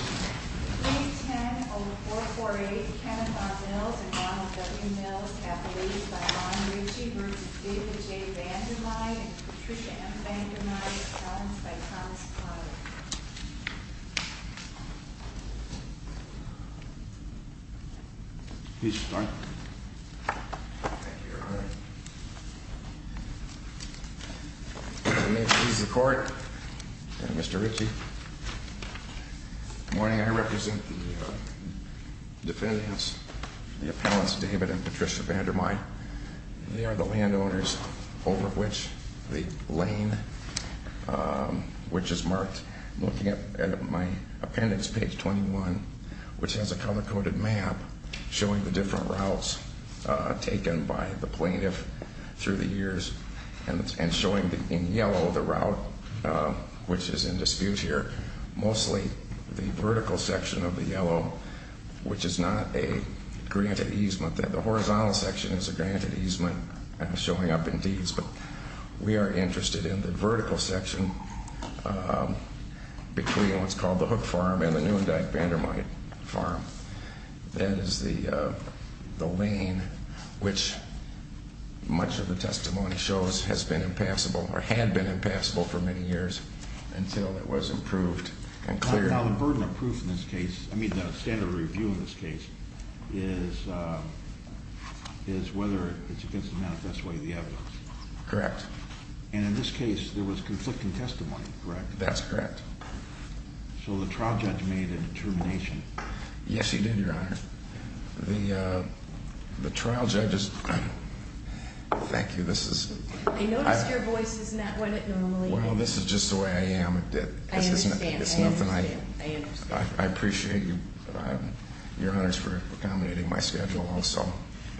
and Patricia M. Vandermyde as found by Thomas Clyde. Please start. May it please the court, Mr. Ritchie. Good morning. I represent the defendants, the appellants David and Patricia Vandermyde. They are the landowners over which the lane which is marked. Looking at my appendix, page 21, which has a color-coded map showing the different routes taken by the plaintiff through the years and showing in yellow the route which is in dispute here, mostly the vertical section of the yellow which is not a granted easement. The horizontal section is a granted easement showing up in deeds, but we are interested in the vertical section between what's called the Hook Farm and the Neuendijk Vandermyde Farm. That is the lane which much of the testimony shows has been impassable or had been impassable for many years until it was improved and cleared. Now the burden of proof in this case, I mean the standard review in this case, is whether it's against the manifest way of the evidence. Correct. And in this case there was conflicting testimony, correct? That's correct. So the trial judge made a determination. Yes he did, your honor. The trial judge is... Thank you, this is... I noticed your voice is not what it normally is. Well, this is just the way I am. I understand. I appreciate your honors for accommodating my schedule also,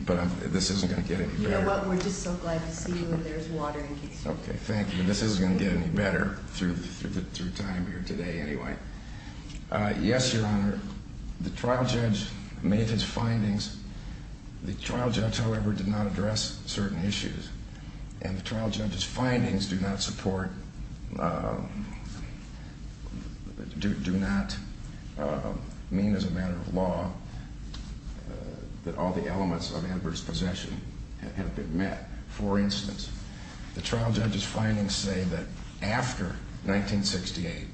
but this isn't going to get any better. You know what, we're just so glad to see you and there's water in case you need it. Okay, thank you. This isn't going to get any better through time here today anyway. Yes, your honor, the trial judge made his findings. The trial judge, however, did not address certain issues. And the trial judge's findings do not support, do not mean as a matter of law that all the elements of adverse possession have been met. For instance, the trial judge's findings say that after 1968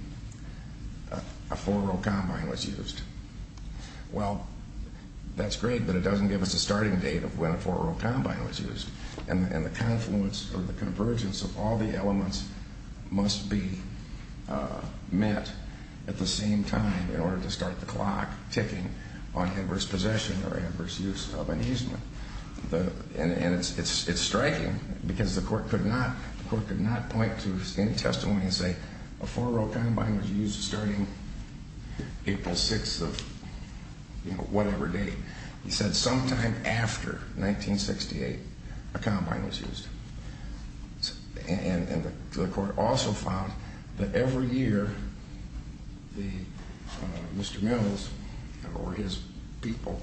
a four-row combine was used. Well, that's great, but it doesn't give us a starting date of when a four-row combine was used. And the confluence or the convergence of all the elements must be met at the same time in order to start the clock ticking on adverse possession or adverse use of an easement. And it's striking because the court could not point to any testimony and say a four-row combine was used starting April 6th of whatever date. He said sometime after 1968 a combine was used. And the court also found that every year Mr. Mills or his people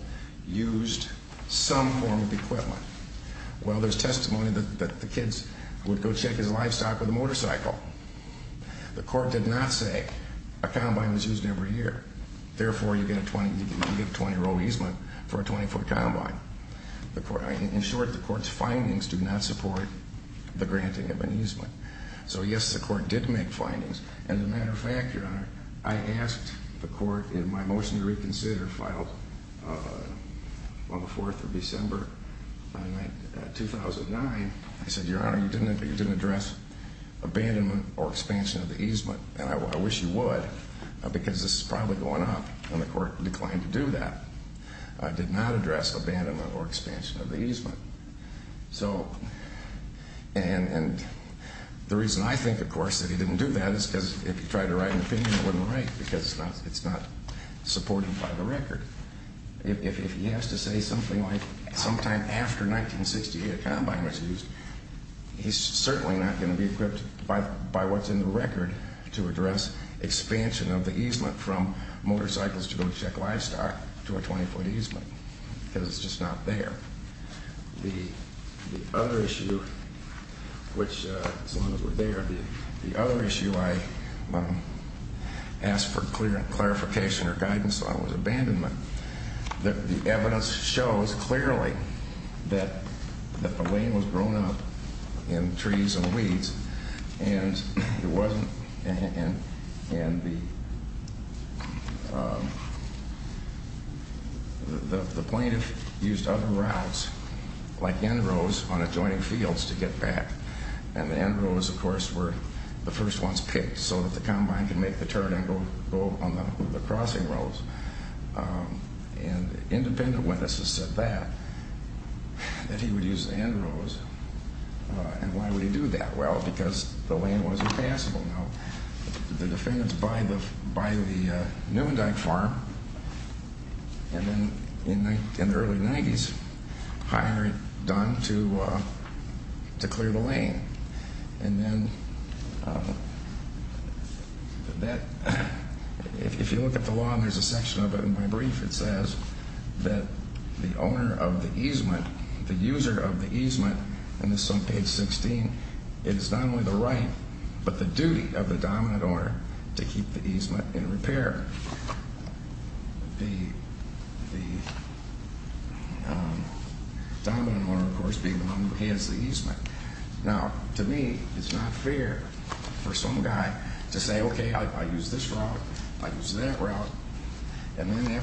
used some form of equipment. Well, there's testimony that the kids would go check his livestock with a motorcycle. The court did not say a combine was used every year. Therefore, you get a 20-row easement for a 20-foot combine. In short, the court's findings do not support the granting of an easement. So yes, the court did make findings. And as a matter of fact, Your Honor, I asked the court in my motion to reconsider filed on the 4th of December 2009, I said, Your Honor, you didn't address abandonment or expansion of the easement, and I wish you would because this is probably going up, and the court declined to do that. It did not address abandonment or expansion of the easement. And the reason I think, of course, that he didn't do that is because if he tried to write an opinion, it wouldn't write because it's not supported by the record. If he has to say something like sometime after 1968 a combine was used, he's certainly not going to be equipped by what's in the record to address expansion of the easement from motorcycles to go check livestock to a 20-foot easement because it's just not there. The other issue, which as long as we're there, the other issue I asked for clarification or guidance on was abandonment. The evidence shows clearly that the lane was grown up in trees and weeds, and the plaintiff used other routes like end rows on adjoining fields to get back, and the end rows, of course, were the first ones picked so that the combine could make the turn and go on the crossing rows. And independent witnesses said that, that he would use the end rows. And why would he do that? Well, because the lane wasn't passable. Now, the defendants buy the Neuendeck farm, and then in the early 90s, hire Dunn to clear the lane. And then that, if you look at the law, and there's a section of it in my brief, it says that the owner of the easement, the user of the easement, and this is on page 16, is not only the right, but the duty of the dominant owner to keep the easement in repair. The dominant owner, of course, being the one who has the easement. Now, to me, it's not fair for some guy to say, okay, I use this route, I use that route, and then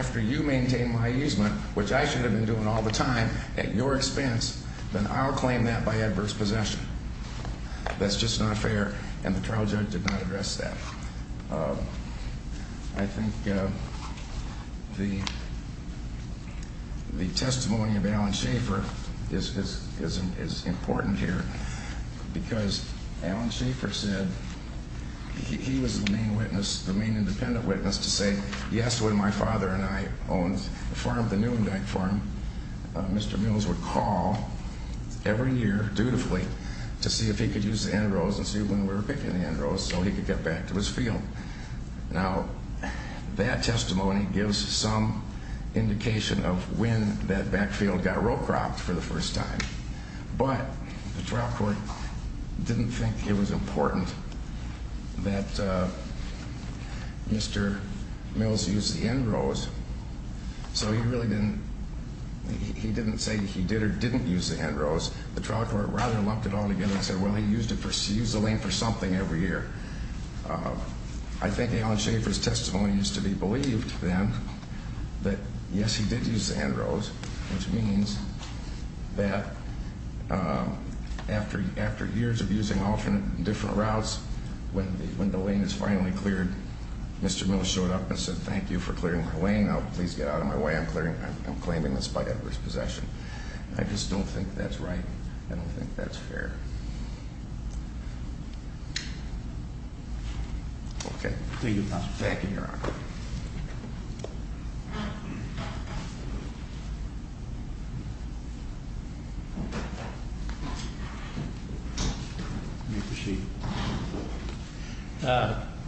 after you maintain my easement, which I should have been doing all the time at your expense, then I'll claim that by adverse possession. That's just not fair, and the trial judge did not address that. I think the testimony of Alan Schaefer is important here, because Alan Schaefer said he was the main witness, the main independent witness to say, yes, when my father and I owned the farm, the Neuendeck farm, Mr. Mills would call every year, dutifully, to see if he could use the end rows and see when we were picking the end rows so he could get back to his field. Now, that testimony gives some indication of when that backfield got row cropped for the first time, but the trial court didn't think it was important that Mr. Mills use the end rows, so he really didn't, he didn't say he did or didn't use the end rows. The trial court rather lumped it all together and said, well, he used the lane for something every year. I think Alan Schaefer's testimony is to be believed, then, that yes, he did use the end rows, which means that after years of using alternate and different routes, when the lane is finally cleared, Mr. Mills showed up and said, thank you for clearing my lane, now please get out of my way, I'm claiming this by adverse possession. I just don't think that's right. I don't think that's fair. Okay. Back in your honor.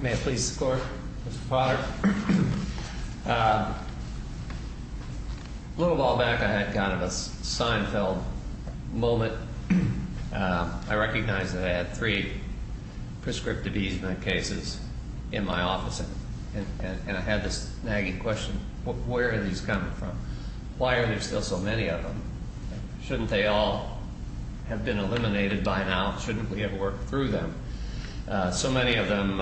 May I please score, Mr. Potter? Well, a little while back I had kind of a Seinfeld moment. I recognize that I had three prescriptive easement cases in my office, and I had this nagging question. Where are these coming from? Why are there still so many of them? Shouldn't they all have been eliminated by now? Shouldn't we have worked through them? So many of them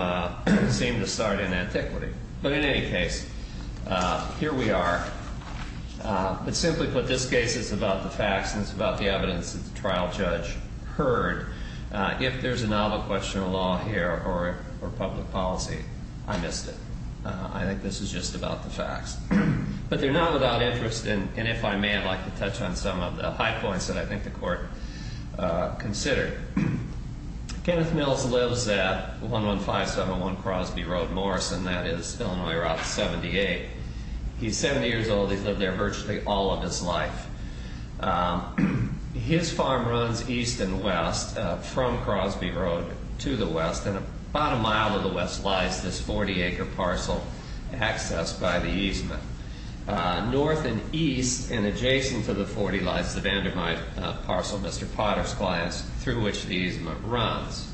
seem to start in antiquity. But in any case, here we are. But simply put, this case is about the facts, and it's about the evidence that the trial judge heard. If there's a novel question of law here or public policy, I missed it. I think this is just about the facts. But they're not without interest, and if I may, I'd like to touch on some of the high points that I think the Court considered. Kenneth Mills lives at 115701 Crosby Road, Morrison. That is, Illinois Route 78. He's 70 years old. He's lived there virtually all of his life. His farm runs east and west from Crosby Road to the west, and about a mile to the west lies this 40-acre parcel accessed by the easement. North and east and adjacent to the 40 lies the Vandermyte parcel, Mr. Potter's clients, through which the easement runs.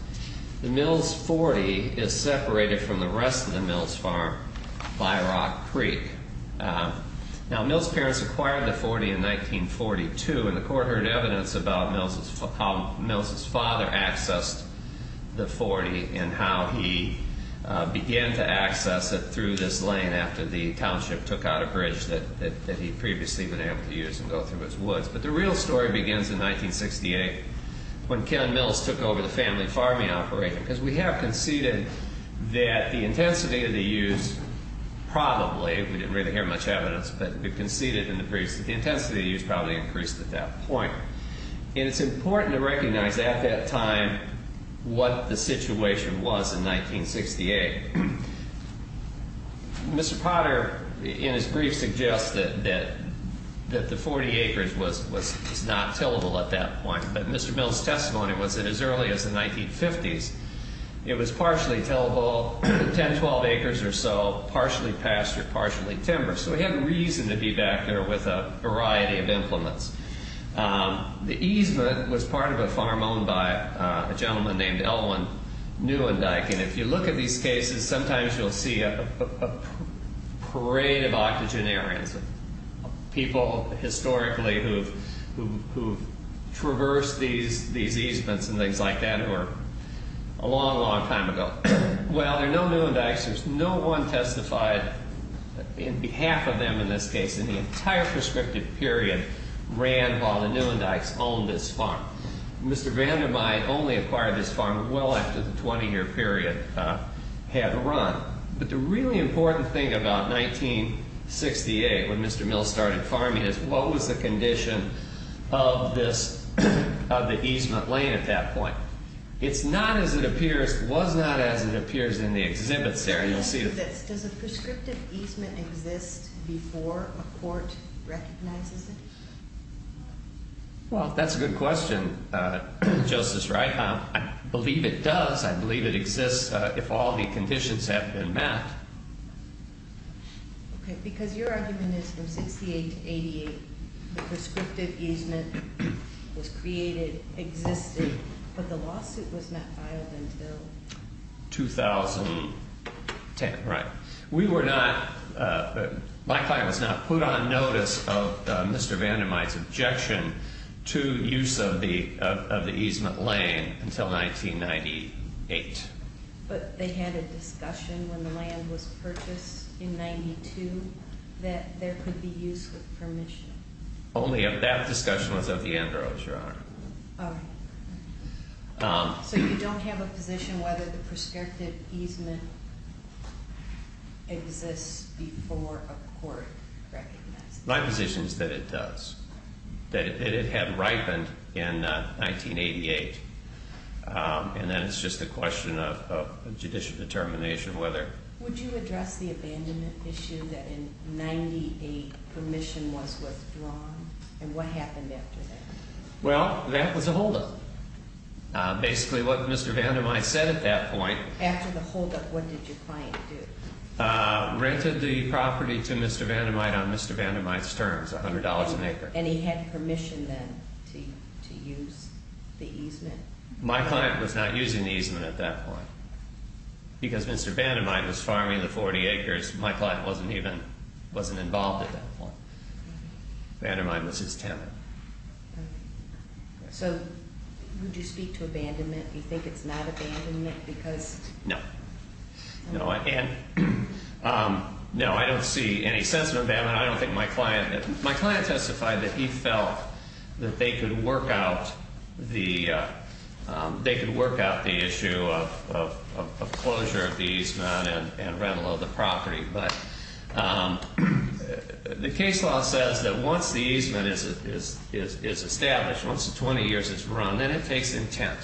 The Mills 40 is separated from the rest of the Mills farm by Rock Creek. Now, Mills' parents acquired the 40 in 1942, and the Court heard evidence about how Mills' father accessed the 40 and how he began to access it through this lane after the township took out a bridge that he'd previously been able to use and go through its woods. But the real story begins in 1968 when Ken Mills took over the family farming operation, because we have conceded that the intensity of the use probably—we didn't really hear much evidence, but we conceded in the previous—the intensity of the use probably increased at that point. And it's important to recognize at that time what the situation was in 1968. Mr. Potter, in his brief, suggested that the 40 acres was not tillable at that point, but Mr. Mills' testimony was that as early as the 1950s, it was partially tillable, 10, 12 acres or so, partially pastured, partially timbered. So he had reason to be back there with a variety of implements. The easement was part of a farm owned by a gentleman named Elwyn Neuendijk, and if you look at these cases, sometimes you'll see a parade of octogenarians, people historically who've traversed these easements and things like that who are a long, long time ago. Well, there are no Neuendijks, there's no one testified in behalf of them in this case, and the entire prescriptive period ran while the Neuendijks owned this farm. Mr. Vandermeijen only acquired this farm well after the 20-year period had run. But the really important thing about 1968, when Mr. Mills started farming, is what was the condition of the easement lane at that point. It's not as it appears, was not as it appears in the exhibits there, and you'll see it. Does a prescriptive easement exist before a court recognizes it? Well, that's a good question, Justice Wright. I believe it does. I believe it exists if all the conditions have been met. Okay, because your argument is from 1968 to 1988, the prescriptive easement was created, existed, but the lawsuit was not filed until? 2010, right. We were not, my client was not put on notice of Mr. Vandermeijen's objection to use of the easement lane until 1998. But they had a discussion when the land was purchased in 1992 that there could be use with permission. Only that discussion was of the Enbro, Your Honor. Okay. So you don't have a position whether the prescriptive easement exists before a court recognizes it? My position is that it does, that it had ripened in 1988. And then it's just a question of judicial determination whether. Would you address the abandonment issue that in 1998 permission was withdrawn? And what happened after that? Well, that was a holdup. Basically what Mr. Vandermeijen said at that point. After the holdup, what did your client do? Rented the property to Mr. Vandermeijen on Mr. Vandermeijen's terms, $100 an acre. And he had permission then to use the easement? My client was not using the easement at that point because Mr. Vandermeijen was farming the 40 acres. My client wasn't even, wasn't involved at that point. Vandermeijen was his tenant. So would you speak to abandonment? Do you think it's not abandonment because? No. No, I don't see any sense of abandonment. My client testified that he felt that they could work out the issue of closure of the easement and rental of the property. But the case law says that once the easement is established, once the 20 years is run, then it takes intent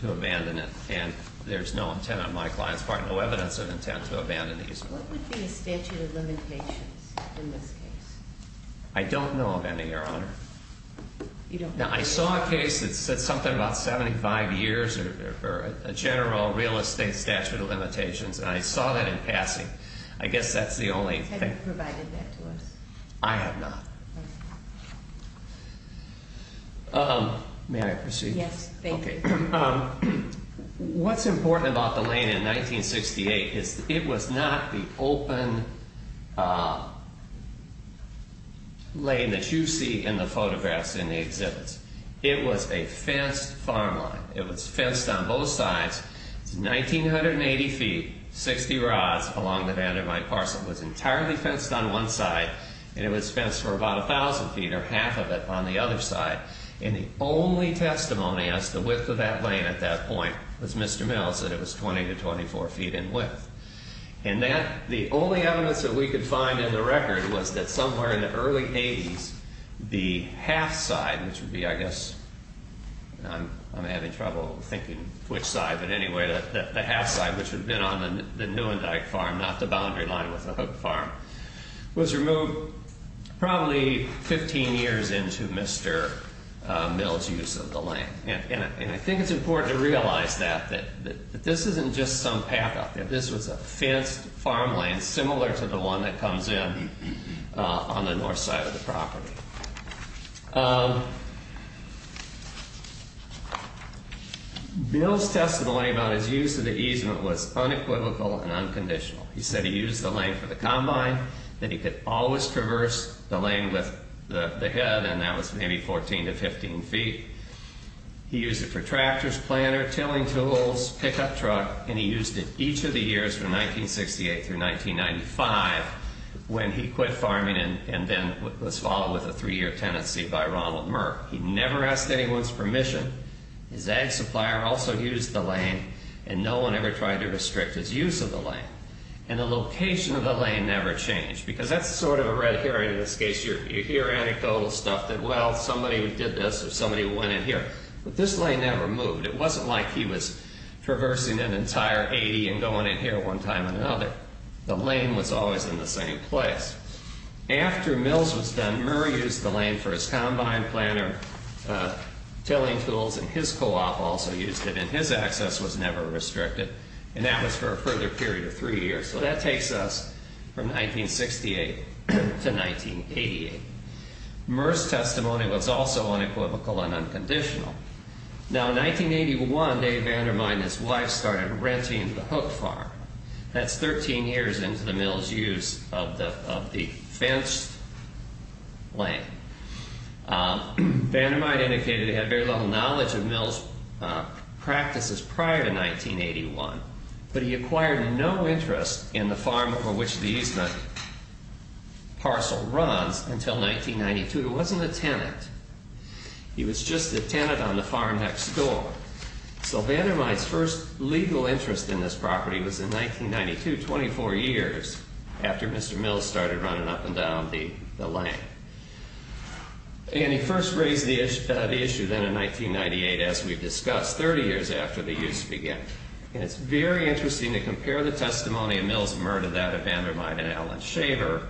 to abandon it. And there's no intent on my client's part, no evidence of intent to abandon the easement. What would be a statute of limitations in this case? I don't know of any, Your Honor. I saw a case that said something about 75 years or a general real estate statute of limitations, and I saw that in passing. I guess that's the only thing. Have you provided that to us? I have not. May I proceed? Yes, thank you. What's important about the lane in 1968 is it was not the open lane that you see in the photographs in the exhibits. It was a fenced farm line. It was fenced on both sides. It's 1,980 feet, 60 rods along the Vandermeijen parcel. It was entirely fenced on one side, and it was fenced for about 1,000 feet or half of it on the other side. And the only testimony as to the width of that lane at that point was Mr. Mills, that it was 20 to 24 feet in width. And the only evidence that we could find in the record was that somewhere in the early 80s, the half side, which would be, I guess, I'm having trouble thinking which side, but anyway, the half side, which would have been on the Neuendijk farm, not the boundary line with the Hook farm, was removed probably 15 years into Mr. Mills' use of the lane. And I think it's important to realize that, that this isn't just some path out there. This was a fenced farm lane similar to the one that comes in on the north side of the property. Bill's testimony about his use of the easement was unequivocal and unconditional. He said he used the lane for the combine, that he could always traverse the lane with the head, and that was maybe 14 to 15 feet. He used it for tractors, planter, tilling tools, pickup truck, and he used it each of the years from 1968 through 1995 when he quit farming and then was followed with a three-year tenancy by Ronald Merck. He never asked anyone's permission. His ag supplier also used the lane, and no one ever tried to restrict his use of the lane. And the location of the lane never changed, because that's sort of a red herring in this case. You hear anecdotal stuff that, well, somebody did this or somebody went in here, but this lane never moved. It wasn't like he was traversing an entire 80 and going in here one time or another. The lane was always in the same place. After Mills was done, Murr used the lane for his combine planter, tilling tools, and his co-op also used it, and his access was never restricted, and that was for a further period of three years. So that takes us from 1968 to 1988. Murr's testimony was also unequivocal and unconditional. Now, in 1981, Dave Vandermyde and his wife started renting the hook farm. That's 13 years into the Mills' use of the fenced lane. Vandermyde indicated he had very little knowledge of Mills' practices prior to 1981, but he acquired no interest in the farm over which the easement parcel runs until 1992. He wasn't a tenant. He was just a tenant on the farm next door. So Vandermyde's first legal interest in this property was in 1992, 24 years after Mr. Mills started running up and down the lane. And he first raised the issue then in 1998, as we've discussed, 30 years after the use began. And it's very interesting to compare the testimony of Mills, Murr, to that of Vandermyde and Alan Shaver,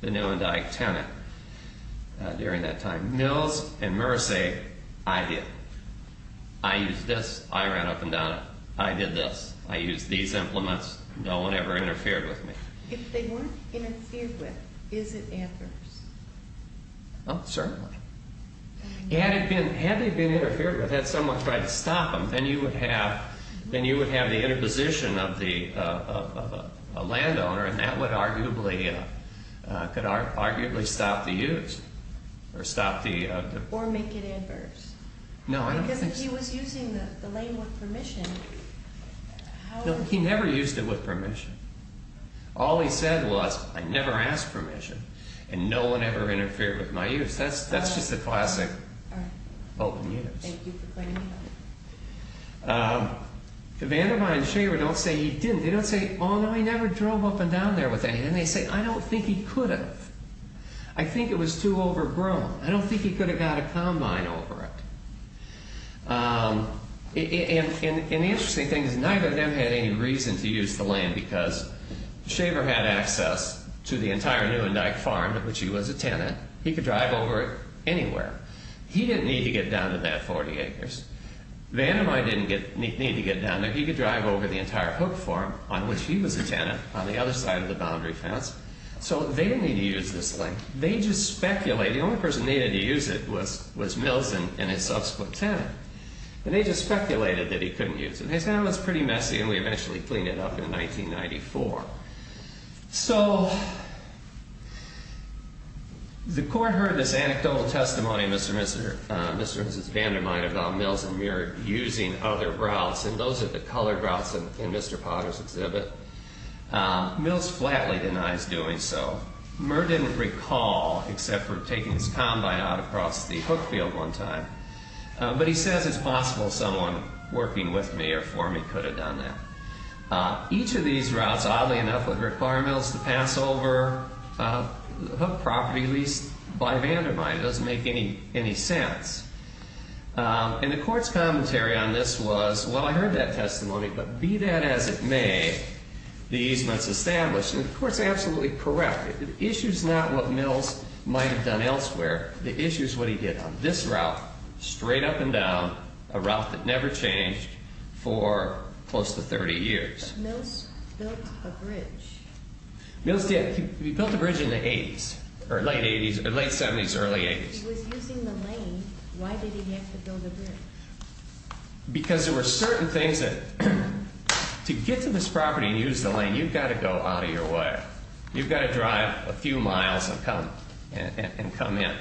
the new and dyke tenant during that time. Mills and Murr say, I did it. I used this. I ran up and down it. I did this. I used these implements. No one ever interfered with me. If they weren't interfered with, is it adverse? Oh, certainly. Had they been interfered with, had someone tried to stop them, then you would have the interposition of a landowner, and that could arguably stop the use. Or make it adverse. No, I don't think so. Because he was using the lane with permission. No, he never used it with permission. All he said was, I never asked permission, and no one ever interfered with my use. That's just a classic open use. Thank you for claiming that. Vandermyde and Shaver don't say he didn't. They say, I don't think he could have. I think it was too overgrown. I don't think he could have got a combine over it. And the interesting thing is, neither of them had any reason to use the lane, because Shaver had access to the entire new and dyke farm, of which he was a tenant. He could drive over it anywhere. He didn't need to get down to that 40 acres. Vandermyde didn't need to get down there. He could drive over the entire hook farm, on which he was a tenant, on the other side of the boundary fence. So they didn't need to use this lane. They just speculated. The only person that needed to use it was Mills and his subsequent tenant. And they just speculated that he couldn't use it. They said, oh, it's pretty messy, and we eventually cleaned it up in 1994. So the court heard this anecdotal testimony of Mr. and Mrs. Vandermyde about Mills and Muir using other routes. And those are the colored routes in Mr. Potter's exhibit. Mills flatly denies doing so. Muir didn't recall, except for taking his combine out across the hook field one time. But he says, it's possible someone working with me or for me could have done that. Each of these routes, oddly enough, would require Mills to pass over the hook property, at least by Vandermyde. It doesn't make any sense. And the court's commentary on this was, well, I heard that testimony, but be that as it may, the easement's established. And the court's absolutely correct. The issue's not what Mills might have done elsewhere. The issue's what he did on this route, straight up and down, a route that never changed for close to 30 years. Mills built a bridge. Mills did. He built a bridge in the late 70s, early 80s. If he was using the lane, why did he have to build a bridge? Because there were certain things that, to get to this property and use the lane, you've got to go out of your way. You've got to drive a few miles and come in.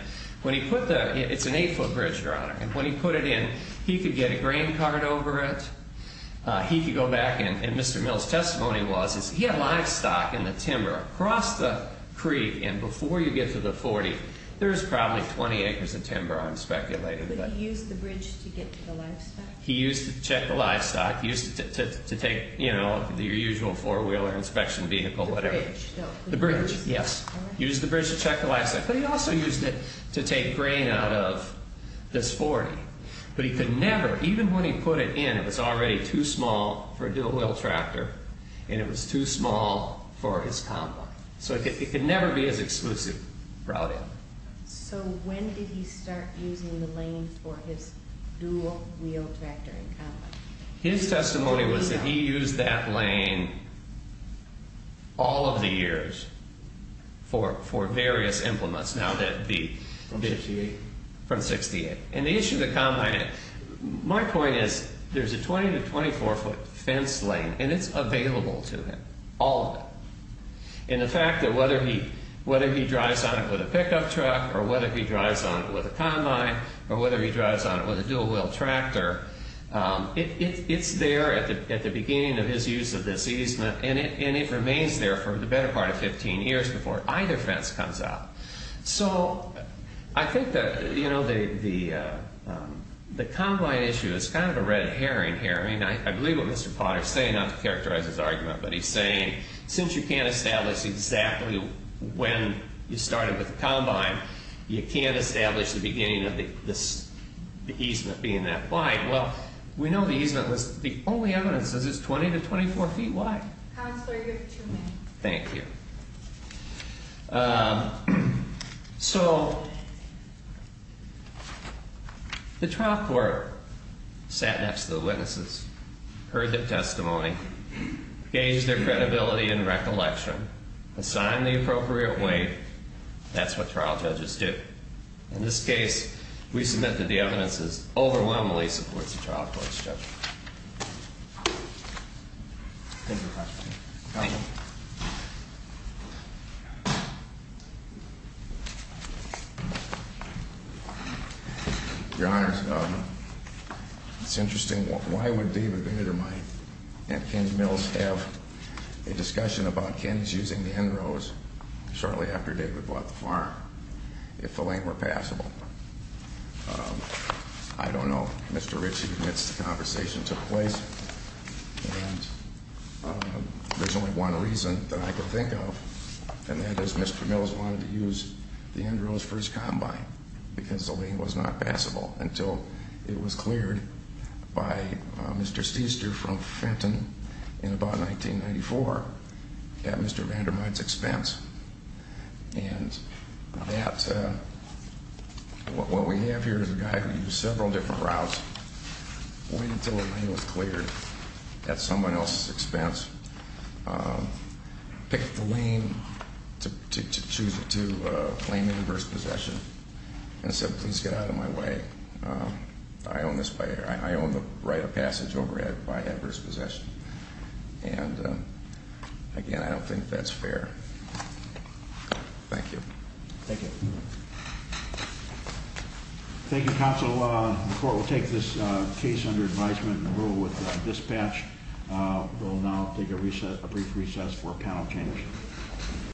When he put the, it's an 8-foot bridge, Your Honor, and when he put it in, he could get a green card over it. He could go back, and Mr. Mills' testimony was, he had livestock in the timber across the creek, and before you get to the 40, there's probably 20 acres of timber, I'm speculating. Did he use the bridge to get to the livestock? He used it to check the livestock. He used it to take, you know, your usual four-wheeler, inspection vehicle, whatever. The bridge? The bridge, yes. Used the bridge to check the livestock. But he also used it to take grain out of this 40. But he could never, even when he put it in, it was already too small for a dual-wheel tractor, and it was too small for his combine. So it could never be as exclusive routing. So when did he start using the lane for his dual-wheel tractor and combine? His testimony was that he used that lane all of the years for various implements. Now that the... From 68? From 68. And the issue of the combine, my point is, there's a 20- to 24-foot fence lane, and it's available to him, all of it. And the fact that whether he drives on it with a pickup truck or whether he drives on it with a combine or whether he drives on it with a dual-wheel tractor, it's there at the beginning of his use of this easement, and it remains there for the better part of 15 years before either fence comes out. So I think that, you know, the combine issue is kind of a red herring here. I mean, I believe what Mr. Potter is saying, not to characterize his argument, but he's saying since you can't establish exactly when you started with the combine, you can't establish the beginning of the easement being that wide. Well, we know the easement was the only evidence is it's 20- to 24-feet wide. Counselor, you have two minutes. Thank you. So the trial court sat next to the witnesses, heard their testimony, gauged their credibility and recollection, assigned the appropriate weight. That's what trial judges do. In this case, we submit that the evidence overwhelmingly supports the trial court's judgment. Thank you, Professor. Thank you. Your Honors, it's interesting. Why would David Vanittermine and Ken Mills have a discussion about Ken's using the end rows shortly after David bought the farm if the lane were passable? I don't know. Mr. Ritchie admits the conversation took place. And there's only one reason that I can think of, and that is Mr. Mills wanted to use the end rows for his combine because the lane was not passable until it was cleared by Mr. Seester from Fenton in about 1994 at Mr. Vanittermine's expense. And what we have here is a guy who used several different routes, waited until the lane was cleared at someone else's expense, picked the lane to claim adverse possession, and said, please get out of my way. I own the right of passage over by adverse possession. And, again, I don't think that's fair. Thank you. Thank you. Thank you, Counsel. The court will take this case under advisement and rule with dispatch. We'll now take a brief recess for panel change.